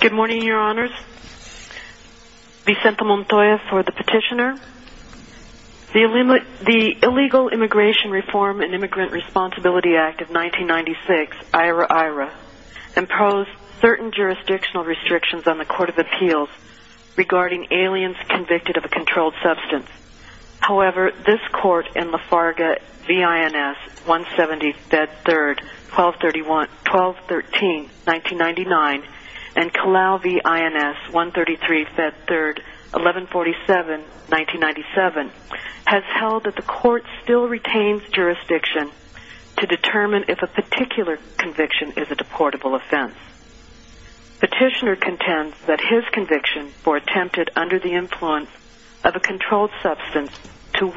Good morning your honors. Vicente Montoya for the petitioner. The Illegal Immigration Reform and Immigrant Responsibility Act of 1996, IRA IRA, imposed certain jurisdictional restrictions on the Court of Appeals regarding aliens convicted of a controlled substance. However, this court in Lafarga, V.I.N.S. 170, Fed 3, 1213, 1999, and Kalau, V.I.N.S. 133, Fed 3, 1147, 1997, has held that the court still retains jurisdiction to determine if a particular conviction is a deportable offense. Petitioner contends that his conviction for attempted under the influence of a controlled substance to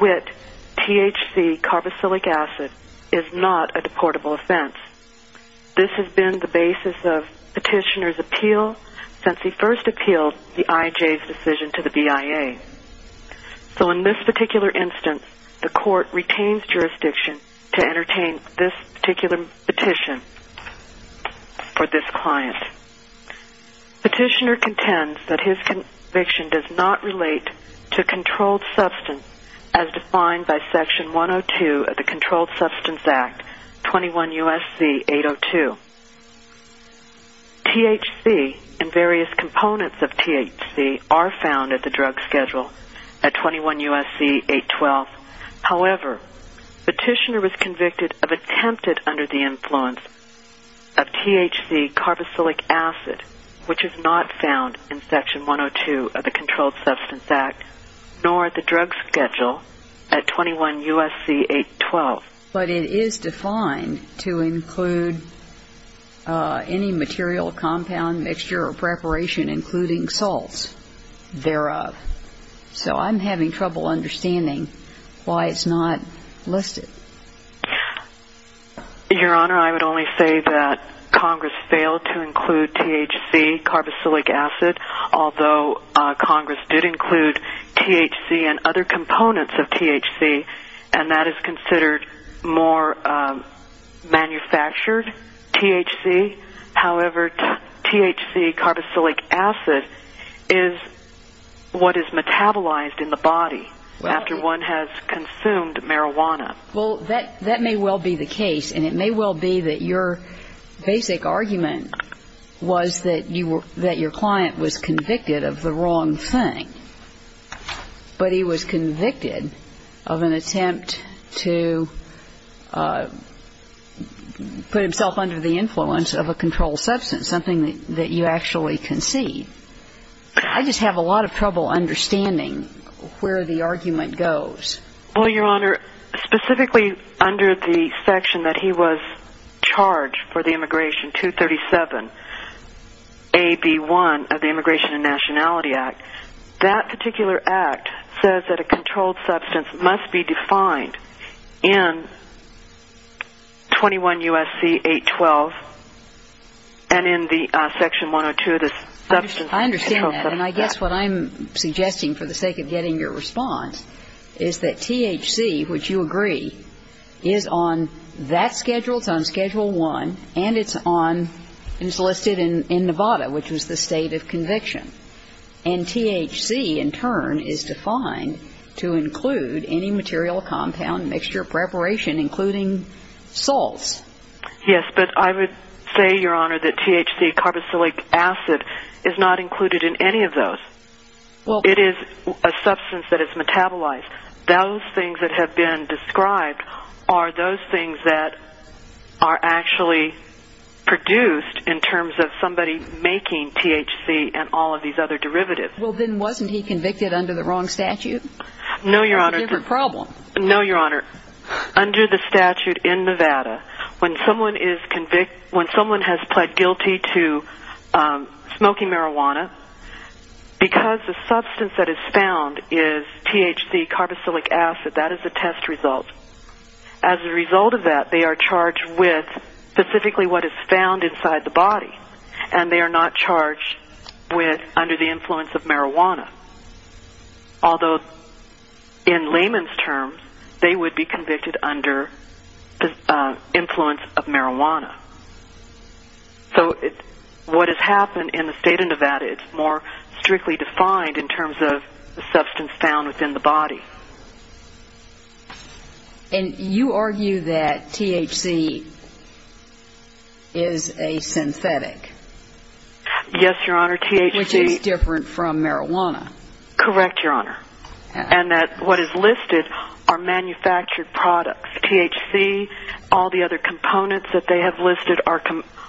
THC, carboxylic acid, is not a deportable offense. This has been the basis of petitioner's appeal since he first appealed the IJ's decision to the BIA. So in this particular instance, the court retains jurisdiction to entertain this particular petition for this client. Petitioner contends that his of the Controlled Substance Act, 21 U.S.C. 802. THC and various components of THC are found at the drug schedule at 21 U.S.C. 812. However, petitioner was convicted of attempted under the influence of THC carboxylic acid, which is not found in Section 102 of the Controlled Substance Act, nor at the drug schedule at 21 U.S.C. 812. But it is defined to include any material, compound, mixture, or preparation, including salts thereof. So I'm having trouble understanding why it's not listed. Your Honor, I would only say that Congress failed to include THC, carboxylic acid, although Congress did and that is considered more manufactured THC. However, THC, carboxylic acid, is what is metabolized in the body after one has consumed marijuana. Well, that may well be the case, and it may well be that your basic argument was that your client was convicted of the wrong thing. But he was convicted of an attempt to put himself under the influence of a controlled substance, something that you actually can see. I just have a lot of trouble understanding where the argument goes. Well, your Honor, specifically under the section that he was charged for the Immigration 237, AB1 of the Immigration and Nationality Act, that particular act says that a controlled substance must be defined in 21 U.S.C. 812, and in the section 102, the substance control code. I understand that. And I guess what I'm suggesting, for the sake of getting your response, is that THC, which you agree, is on that schedule, it's on Schedule 1, and it's on, it's listed in Nevada, which was the state of Yes, but I would say, Your Honor, that THC, carboxylic acid, is not included in any of those. It is a substance that is metabolized. Those things that have been described are those things that are actually produced in terms of somebody making THC and all of these other derivatives. Well, then wasn't he convicted under the wrong statute? No, Your Honor. Or a different problem. No, Your Honor. Under the statute in Nevada, when someone is convict, when someone has pled guilty to smoking marijuana, because the substance that is found is THC, carboxylic acid, that is a test result. As a result of that, they are charged with specifically what is found inside the body, and they are not charged under the influence of marijuana. Although in layman's terms, they would be convicted under the influence of marijuana. So what has happened in the state of Nevada, it's more strictly defined in terms of the substance found within the body. And you argue that THC is a synthetic. Yes, Your Honor. THC Which is different from marijuana. Correct, Your Honor. And that what is listed are manufactured products. THC, all the other components that they have listed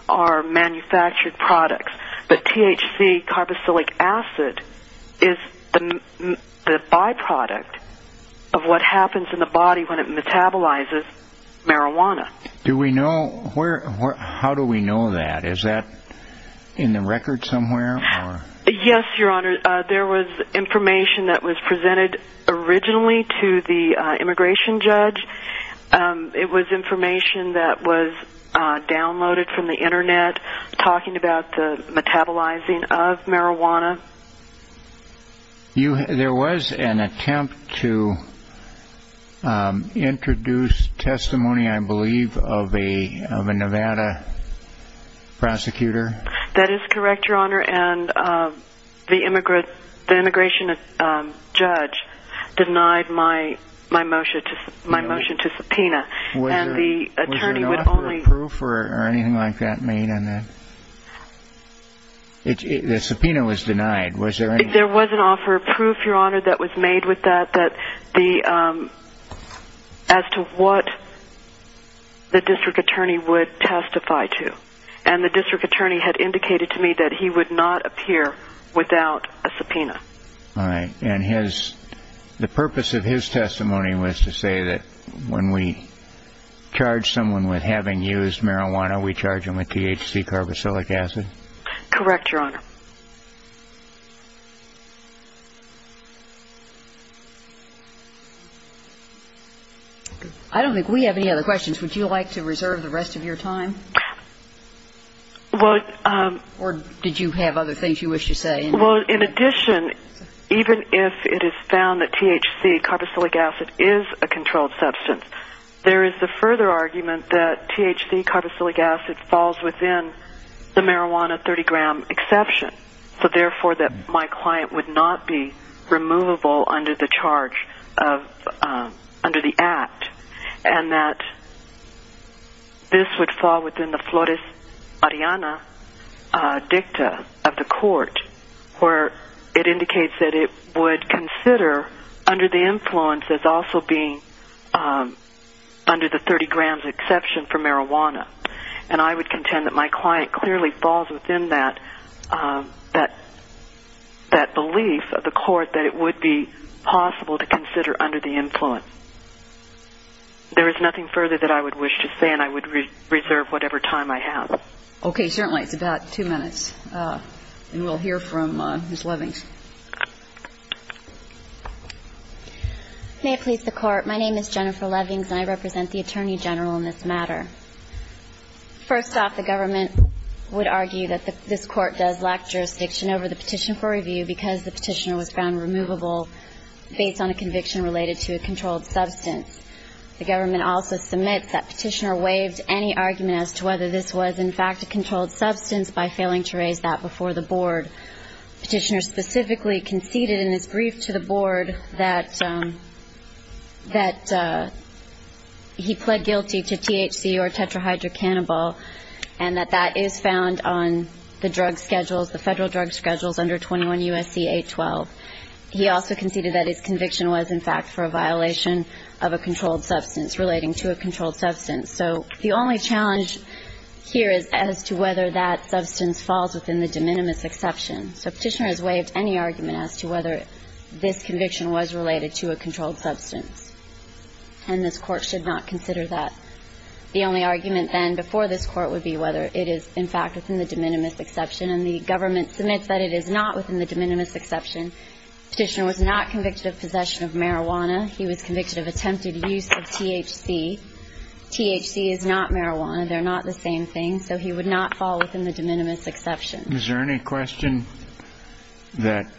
are manufactured products. But THC, carboxylic acid, is the byproduct of what happens in the body when it metabolizes marijuana. Do we know, how do we know that? Is that in the record somewhere? Yes, Your Honor. There was information that was presented originally to the immigration judge. It was information that was downloaded from the website about the metabolizing of marijuana. There was an attempt to introduce testimony, I believe, of a Nevada prosecutor. That is correct, Your Honor. And the immigration judge denied my motion to subpoena. Was there an offer of proof or anything like that made? The subpoena was denied. There was an offer of proof, Your Honor, that was made with that as to what the district attorney would testify to. And the district attorney had indicated to me that he would not appear without a subpoena. All right. And the purpose of his testimony was to say that when we charge someone with having used marijuana, we charge them with THC, carboxylic acid? Correct, Your Honor. I don't think we have any other questions. Would you like to reserve the rest of your time? Well, Or did you have other things you wish to say? Well, in addition, even if it is found that THC, carboxylic acid, is a controlled substance, there is the further argument that THC, carboxylic acid, falls within the marijuana 30-gram exception, so therefore that my client would not be removable under the charge of, under the act, and that this would fall within the Flores-Ariana dicta of the court, where it indicates that it would consider under the influence as also being under the 30-grams exception for marijuana. And I would contend that my client clearly falls within that belief of the court that it would be possible to consider under the influence. There is nothing further that I would wish to say, and I would reserve whatever time I have. Okay. Certainly. It's about two minutes, and we'll hear from Ms. Levings. May it please the Court. My name is Jennifer Levings, and I represent the Attorney General in this matter. First off, the government would argue that this court does lack jurisdiction over the petition for review because the The government also submits that petitioner waived any argument as to whether this was, in fact, a controlled substance by failing to raise that before the Board. Petitioner specifically conceded in his brief to the Board that he pled guilty to THC or tetrahydrocannabal, and that that is found on the drug schedules, the federal drug schedules under 21 U.S.C. 812. He also So the only challenge here is as to whether that substance falls within the de minimis exception. So petitioner has waived any argument as to whether this conviction was related to a controlled substance, and this Court should not consider that. The only argument then before this Court would be whether it is, in fact, within the de minimis exception, and the government submits that it is not within the de minimis exception. Petitioner was not convicted of possession of marijuana. He was convicted of attempted use of THC. THC is not marijuana. They're not the same thing, so he would not fall within the de minimis exception. Is there any question that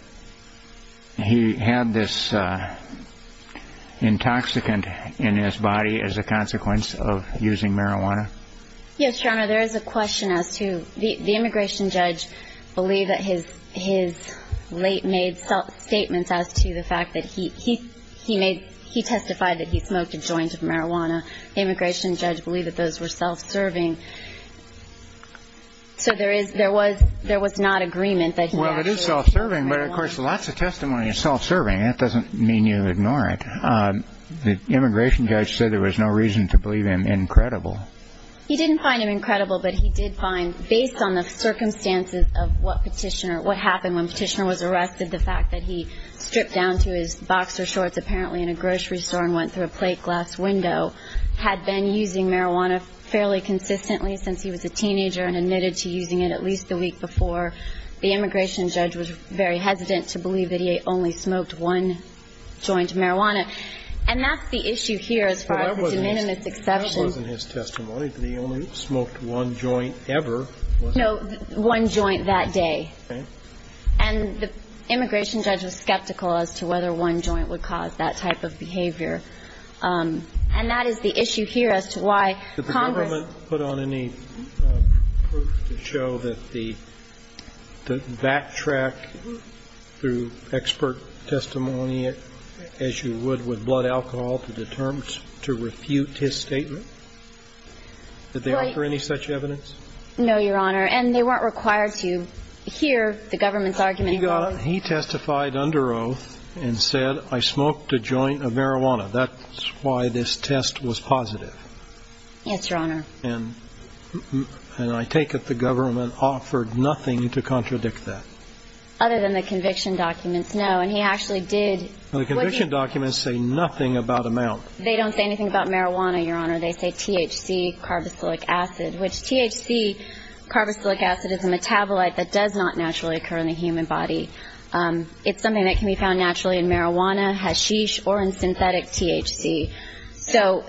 he had this intoxicant in his body as a consequence of using marijuana? Yes, Your Honor, there is a question as to the immigration judge believe that his late-made statements as to the fact that he testified that he smoked a joint of marijuana. The immigration judge believed that those were self-serving. So there was not agreement that he actually smoked marijuana. Well, it is self-serving, but of course lots of testimony is self-serving. That doesn't mean you ignore it. The immigration judge said there was no reason to believe him incredible. He didn't find him incredible, but he did find, based on the circumstances of what Petitioner, what happened when Petitioner was arrested, the fact that he stripped down to his boxer shorts apparently in a grocery store and went through a plate glass window, had been using marijuana fairly consistently since he was a teenager and admitted to using it at least the week before. The immigration judge was very hesitant to believe that he only smoked one joint of marijuana. And that's the issue here as far as the de minimis exception. The immigration judge wasn't his testimony that he only smoked one joint ever, was he? No, one joint that day. Okay. And the immigration judge was skeptical as to whether one joint would cause that type of behavior. And that is the issue here as to why Congress ---- Did the government put on any proof to show that the backtrack through expert testimony, as you would with blood alcohol, to refute his statement? Did they offer any such evidence? No, Your Honor. And they weren't required to hear the government's argument about it. He testified under oath and said, I smoked a joint of marijuana. That's why this test was positive. Yes, Your Honor. And I take it the government offered nothing to contradict that. Other than the conviction documents, no. And he actually did ---- Well, the conviction documents say nothing about amount. They don't say anything about marijuana, Your Honor. They say THC, carboxylic acid, which THC, carboxylic acid, is a metabolite that does not naturally occur in the human body. It's something that can be found naturally in marijuana, hashish, or in synthetic THC. So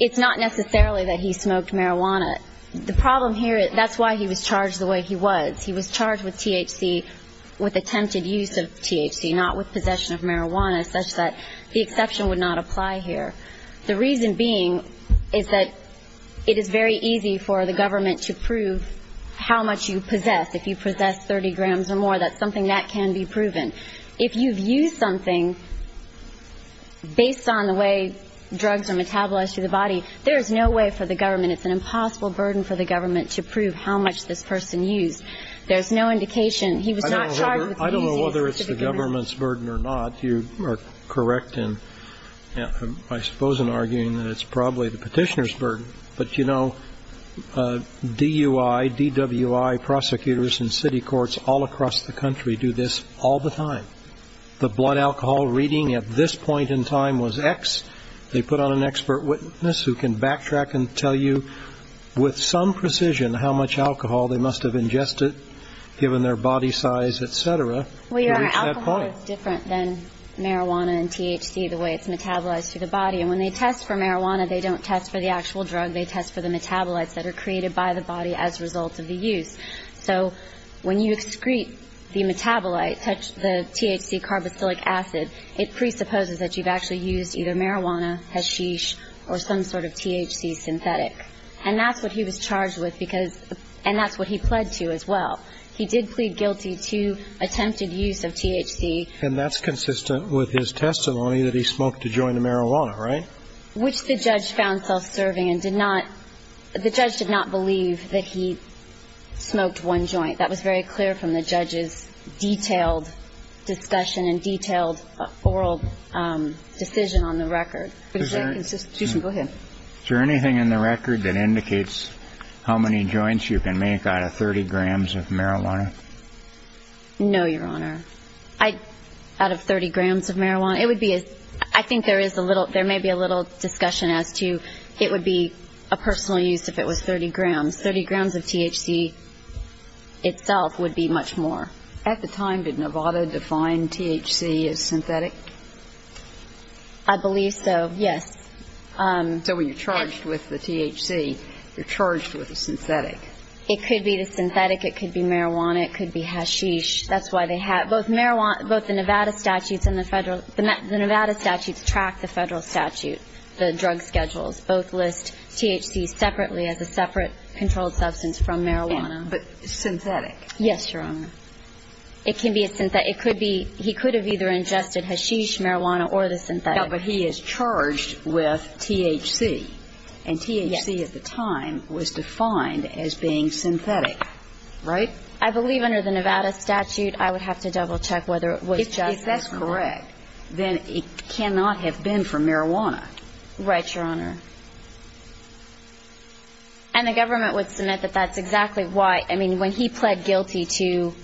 it's not necessarily that he smoked marijuana. The problem here, that's why he was charged the way he was. He was charged with THC, with attempted use of THC, not with possession of marijuana, such that the exception would not apply here. The reason being is that it is very easy for the government to prove how much you possess. If you possess 30 grams or more, that's something that can be proven. If you've used something based on the way drugs are metabolized through the body, there is no way for the government, it's an impossible burden for the government to prove how much this person used. There's no indication he was not charged with using a specific amount. I don't know whether it's the government's burden or not. You are correct in, I suppose in arguing that it's probably the Petitioner's burden. But, you know, DUI, DWI prosecutors in city courts all across the country do this all the time. The blood alcohol reading at this point in time was X. They put on an expert witness who can backtrack and tell you with some precision how much alcohol they must have ingested, given their body size, et cetera, to reach that point. Well, your alcohol is different than marijuana and THC, the way it's metabolized through the body. And when they test for marijuana, they don't test for the actual drug. They test for the metabolites that are created by the body as a result of the use. So when you excrete the metabolite, the THC carboxylic acid, it presupposes that you've actually used either marijuana, hashish, or some sort of THC synthetic. And that's what he was charged with because – and that's what he pled to as well. He did plead guilty to attempted use of THC. And that's consistent with his testimony that he smoked a joint of marijuana, right? Which the judge found self-serving and did not – the judge did not believe that he smoked one joint. That was very clear from the judge's detailed discussion and detailed oral decision on the record. But is that consistent – Go ahead. Is there anything in the record that indicates how many joints you can make out of 30 grams of marijuana? No, Your Honor. I – out of 30 grams of marijuana, it would be as – I think there is a little – there may be a little discussion as to it would be a personal use if it was 30 grams. Thirty grams of THC itself would be much more. At the time, did Nevada define THC as synthetic? I believe so, yes. So when you're charged with the THC, you're charged with the synthetic. It could be the synthetic. It could be marijuana. It could be hashish. That's why they have – both marijuana – both the Nevada statutes and the Federal – the Nevada statutes track the Federal statute, the drug schedules. Both list THC separately as a separate controlled substance from marijuana. But synthetic? Yes, Your Honor. It can be a – it could be – he could have either ingested hashish, marijuana, or the synthetic. No, but he is charged with THC. And THC at the time was defined as being synthetic. Right? I believe under the Nevada statute, I would have to double-check whether it was just hashish. If that's correct, then it cannot have been for marijuana. Right, Your Honor. And the government would submit that that's exactly why – I mean, when he pled guilty to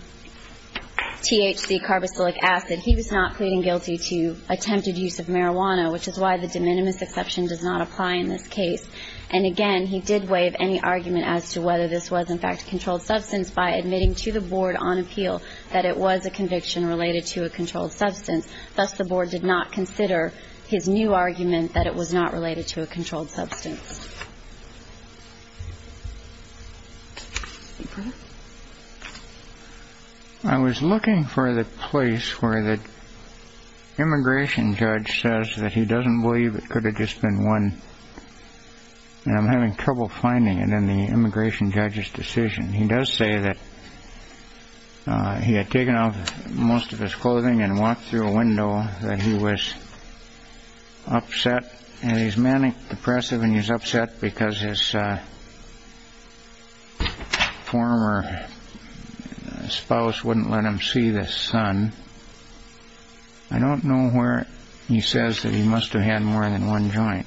THC, carboxylic acid, he was not pleading guilty to attempted use of marijuana, which is why the de minimis exception does not apply in this case. And again, he did waive any argument as to whether this was in fact a controlled substance by admitting to the Board on appeal that it was a conviction related to a controlled substance. Thus, the Board did not consider his new argument that it was not related to a controlled substance. Okay. I was looking for the place where the immigration judge says that he doesn't believe it could have just been one, and I'm having trouble finding it in the immigration judge's decision. He does say that he had taken off most of his clothing and walked through a window, that he was upset, and he's manic, depressive, and he's upset because his former spouse wouldn't let him see the son. I don't know where he says that he must have had more than one joint.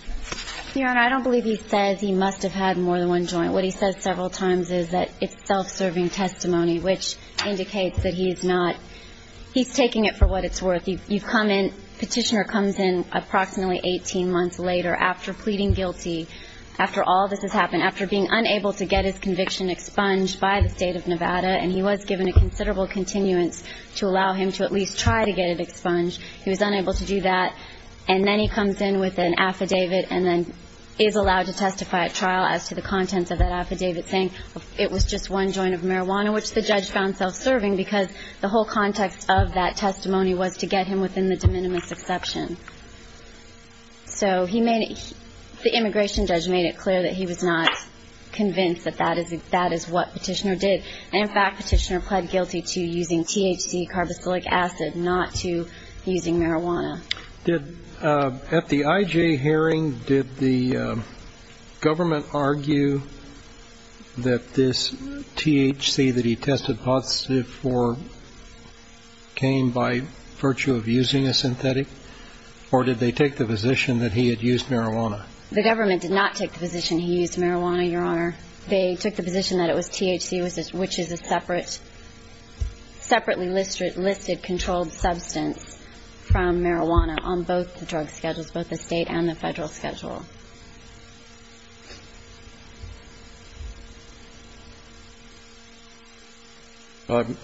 Your Honor, I don't believe he says he must have had more than one joint. What he says several times is that it's self-serving testimony, which indicates that he's not – he's taking it for what it's worth. You come in – petitioner comes in approximately 18 months later after pleading guilty, after all this has happened, after being unable to get his conviction expunged by the State of Nevada and he was given a considerable continuance to allow him to at least try to get it expunged. He was unable to do that. And then he comes in with an affidavit and then is allowed to testify at trial as to the contents of that affidavit saying it was just one joint of marijuana, which the judge found self-serving because the whole context of that testimony was to get him within the de minimis exception. So he made it – the immigration judge made it clear that he was not convinced that that is what petitioner did. And in fact, petitioner pled guilty to using THC, carboxylic acid, not to using marijuana. Did – at the IJ hearing, did the government argue that this THC that he tested positive for came by virtue of using a synthetic? Or did they take the position that he had used marijuana? The government did not take the position he used marijuana, Your Honor. They took the position that it was THC, which is a separate – separately listed controlled substance from marijuana on both the drug schedules, both the State and the Federal schedule.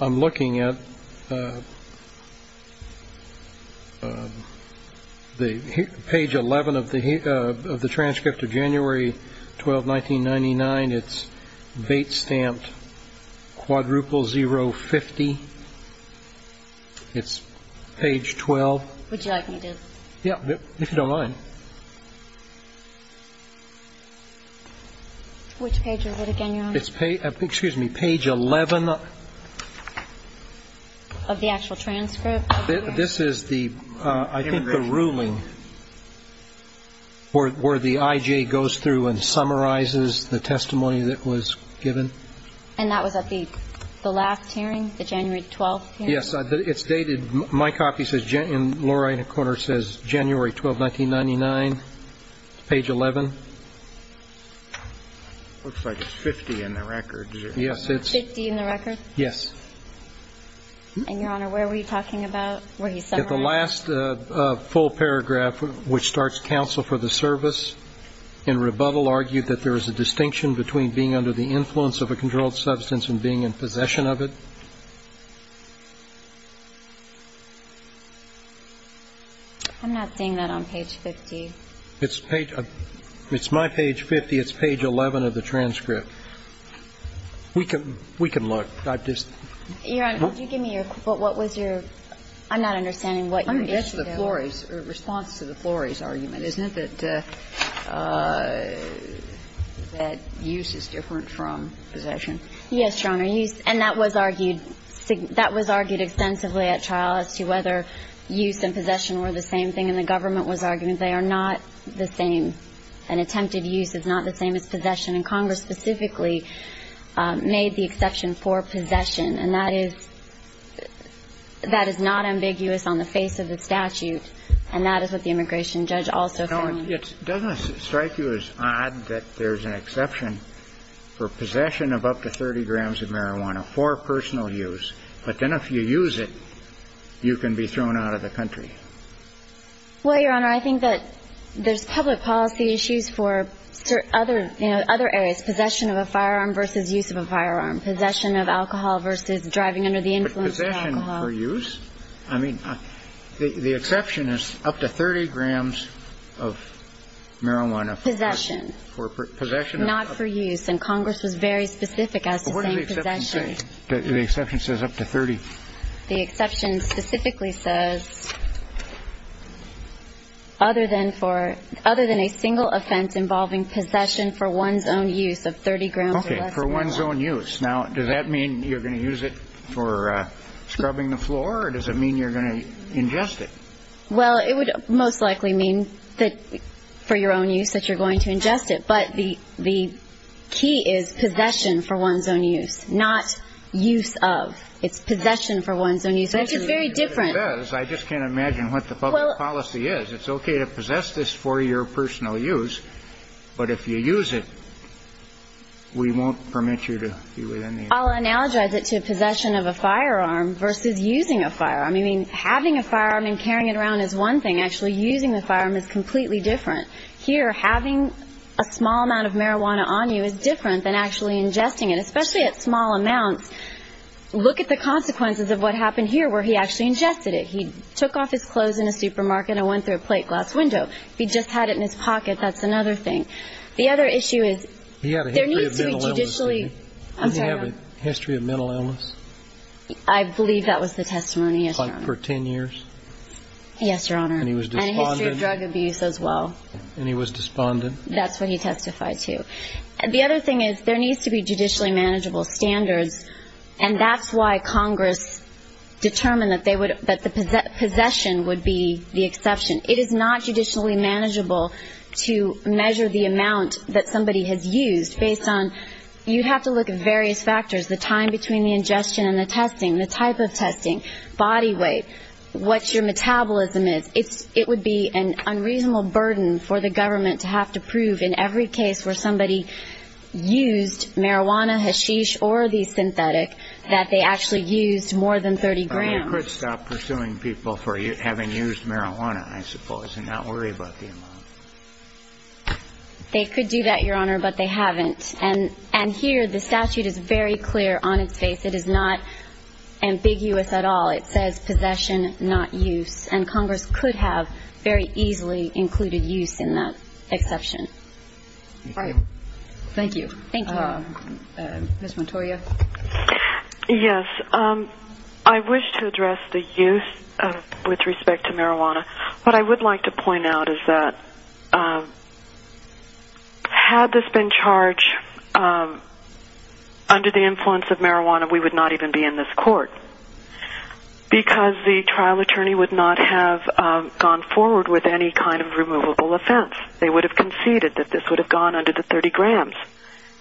I'm looking at the page 11 of the transcript of January 12, 1999. It's Bates stamped quadruple zero 50. It's page 12. Would you like me to? Yeah. If you don't mind. Which page is it again, Your Honor? It's page – excuse me, page 11. Of the actual transcript? This is the – I think the ruling where the IJ goes through and summarizes the testimony that was given. And that was at the last hearing, the January 12 hearing? Yes. It's dated – my copy in the lower right-hand corner says January 12, 1999, page 11. Looks like it's 50 in the record. Yes, it's – 50 in the record? Yes. And, Your Honor, where were you talking about where he summarized? At the last full paragraph, which starts counsel for the service, in rebuttal argued that there is a distinction between being under the influence of a controlled substance and being in possession of it. I'm not seeing that on page 50. It's page – it's my page 50. It's page 11 of the transcript. We can – we can look. I just – Your Honor, could you give me your – what was your – I'm not understanding what your issue there was. I mean, that's the Flory's – response to the Flory's argument, isn't it, that use is different from possession? Yes, Your Honor. Use – and that was argued – that was argued extensively at trial as to whether use and possession were the same thing. And the government was arguing they are not the same. An attempted use is not the same as possession. And Congress specifically made the exception for possession. And that is – that is not ambiguous on the face of the statute. And that is what the immigration judge also found. You know, it doesn't strike you as odd that there's an exception for possession of up to 30 grams of marijuana for personal use. But then if you use it, you can be thrown out of the country. Well, Your Honor, I think that there's public policy issues for other – you know, other areas. Possession of a firearm versus use of a firearm. I mean, the exception is up to 30 grams of marijuana for – Possession. For possession of – Not for use. And Congress was very specific as to saying possession. But what does the exception say? The exception says up to 30. The exception specifically says other than for – other than a single offense Now, does that mean you're going to use it for scrubbing the floor? Or does it mean you're going to ingest it? Well, it would most likely mean that for your own use that you're going to ingest it. But the key is possession for one's own use, not use of. It's possession for one's own use, which is very different. I just can't imagine what the public policy is. It's okay to possess this for your personal use. But if you use it, we won't permit you to be within the – I'll analogize it to possession of a firearm versus using a firearm. I mean, having a firearm and carrying it around is one thing. Actually, using the firearm is completely different. Here, having a small amount of marijuana on you is different than actually ingesting it, especially at small amounts. Look at the consequences of what happened here, where he actually ingested it. He took off his clothes in a supermarket and went through a plate glass window. If he just had it in his pocket, that's another thing. The other issue is there needs to be judicially – He had a history of mental illness, didn't he? I'm sorry? Did he have a history of mental illness? I believe that was the testimony, yes, Your Honor. Like for 10 years? Yes, Your Honor. And he was despondent? And a history of drug abuse as well. And he was despondent? That's what he testified to. The other thing is there needs to be judicially manageable standards, and that's why Congress determined that the possession would be the exception. It is not judicially manageable to measure the amount that somebody has used based on – you have to look at various factors, the time between the ingestion and the testing, the type of testing, body weight, what your metabolism is. It would be an unreasonable burden for the government to have to prove in every case where somebody used marijuana, hashish, or the synthetic, that they actually used more than 30 grams. Well, you could stop pursuing people for having used marijuana, I suppose, and not worry about the amount. They could do that, Your Honor, but they haven't. And here the statute is very clear on its face. It is not ambiguous at all. It says possession, not use. And Congress could have very easily included use in that exception. All right. Thank you. Thank you. Ms. Montoya. Yes. I wish to address the use with respect to marijuana. What I would like to point out is that had this been charged under the influence of marijuana, we would not even be in this court because the trial attorney would not have gone forward with any kind of removable offense. They would have conceded that this would have gone under the 30 grams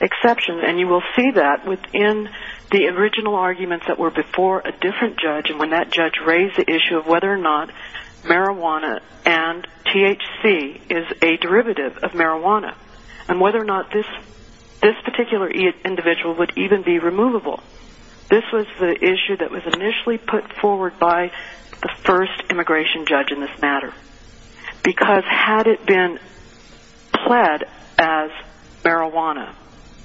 exception, and you will see that within the original arguments that were before a different judge and when that judge raised the issue of whether or not marijuana and THC is a derivative of marijuana and whether or not this particular individual would even be removable. This was the issue that was initially put forward by the first immigration judge in this matter because had it been pled as marijuana,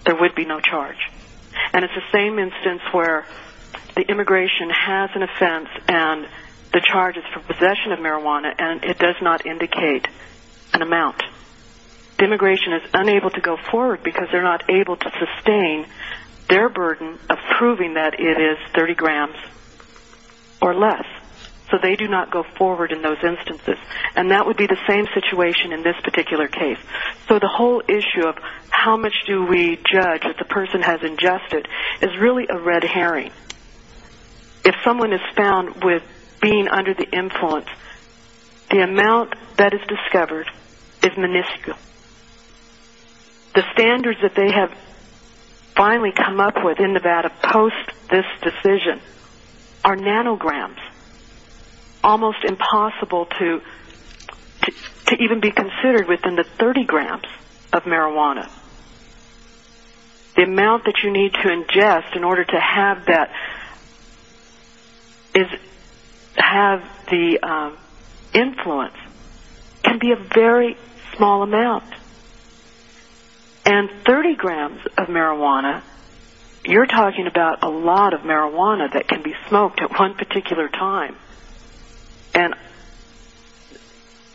there would be no charge. And it's the same instance where the immigration has an offense and the charge is for possession of marijuana and it does not indicate an amount. The immigration is unable to go forward because they're not able to sustain their burden of proving that it is 30 grams or less. So they do not go forward in those instances. And that would be the same situation in this particular case. So the whole issue of how much do we judge that the person has ingested is really a red herring. If someone is found with being under the influence, the amount that is discovered is minuscule. The standards that they have finally come up with in Nevada post this decision are nanograms, almost impossible to even be considered within the 30 grams of marijuana. The amount that you need to ingest in order to have the influence can be a very small amount. And 30 grams of marijuana, you're talking about a lot of marijuana that can be smoked at one particular time. And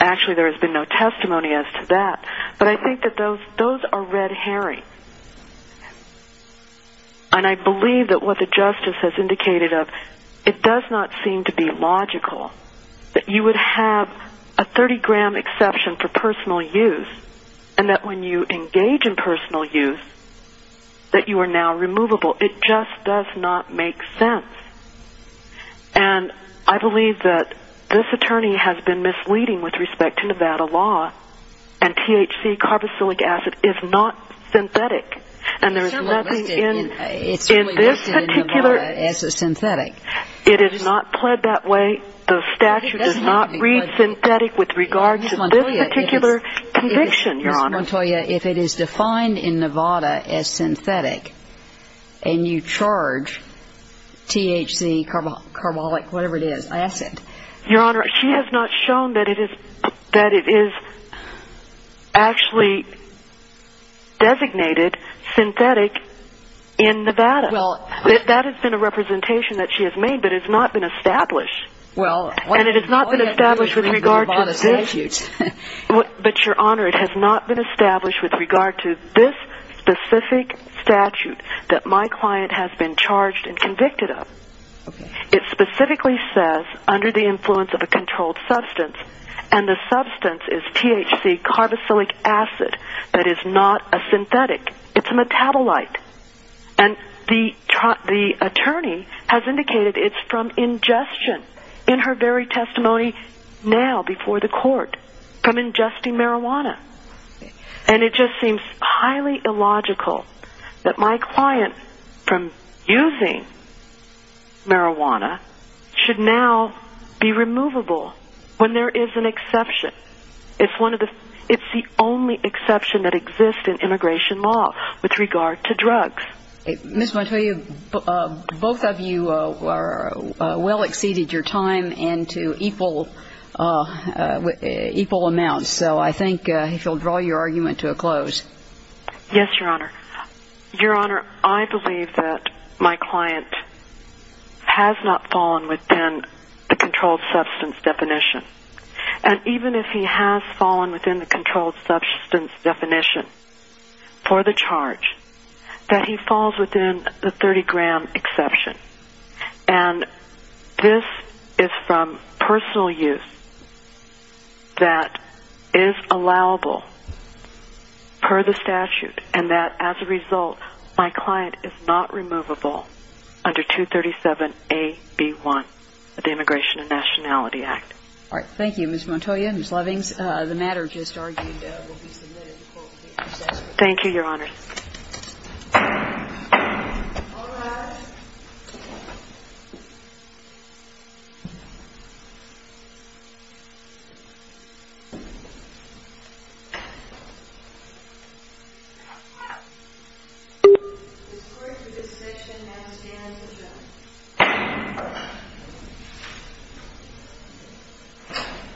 actually there has been no testimony as to that. But I think that those are red herrings. And I believe that what the justice has indicated of it does not seem to be logical that you would have a 30 gram exception for personal use and that when you engage in personal use that you are now removable. It just does not make sense. And I believe that this attorney has been misleading with respect to Nevada law and THC, carboxylic acid, is not synthetic. And there is nothing in this particular... It's only listed in Nevada as a synthetic. It is not pled that way. The statute does not read synthetic with regard to this particular conviction, Your Honor. I want to tell you, if it is defined in Nevada as synthetic and you charge THC, carboxylic, whatever it is, acid... Your Honor, she has not shown that it is actually designated synthetic in Nevada. That has been a representation that she has made, but it has not been established. And it has not been established with regard to this. But, Your Honor, it has not been established with regard to this specific statute that my client has been charged and convicted of. It specifically says, under the influence of a controlled substance, and the substance is THC, carboxylic acid, that is not a synthetic. It's a metabolite. And the attorney has indicated it's from ingestion. In her very testimony now, before the court, from ingesting marijuana. And it just seems highly illogical that my client, from using marijuana, should now be removable when there is an exception. It's the only exception that exists in immigration law with regard to drugs. Ms. Montoya, both of you well exceeded your time into equal amounts, so I think if you'll draw your argument to a close. Yes, Your Honor. Your Honor, I believe that my client has not fallen within the controlled substance definition. And even if he has fallen within the controlled substance definition for the charge, that he falls within the 30-gram exception. And this is from personal use that is allowable per the statute, and that, as a result, my client is not removable under 237A.B.1 of the Immigration and Nationality Act. All right. Thank you, Ms. Montoya and Ms. Lovings. The matter just argued will be submitted to court. Thank you, Your Honor. All rise. The court for this section now stands adjourned.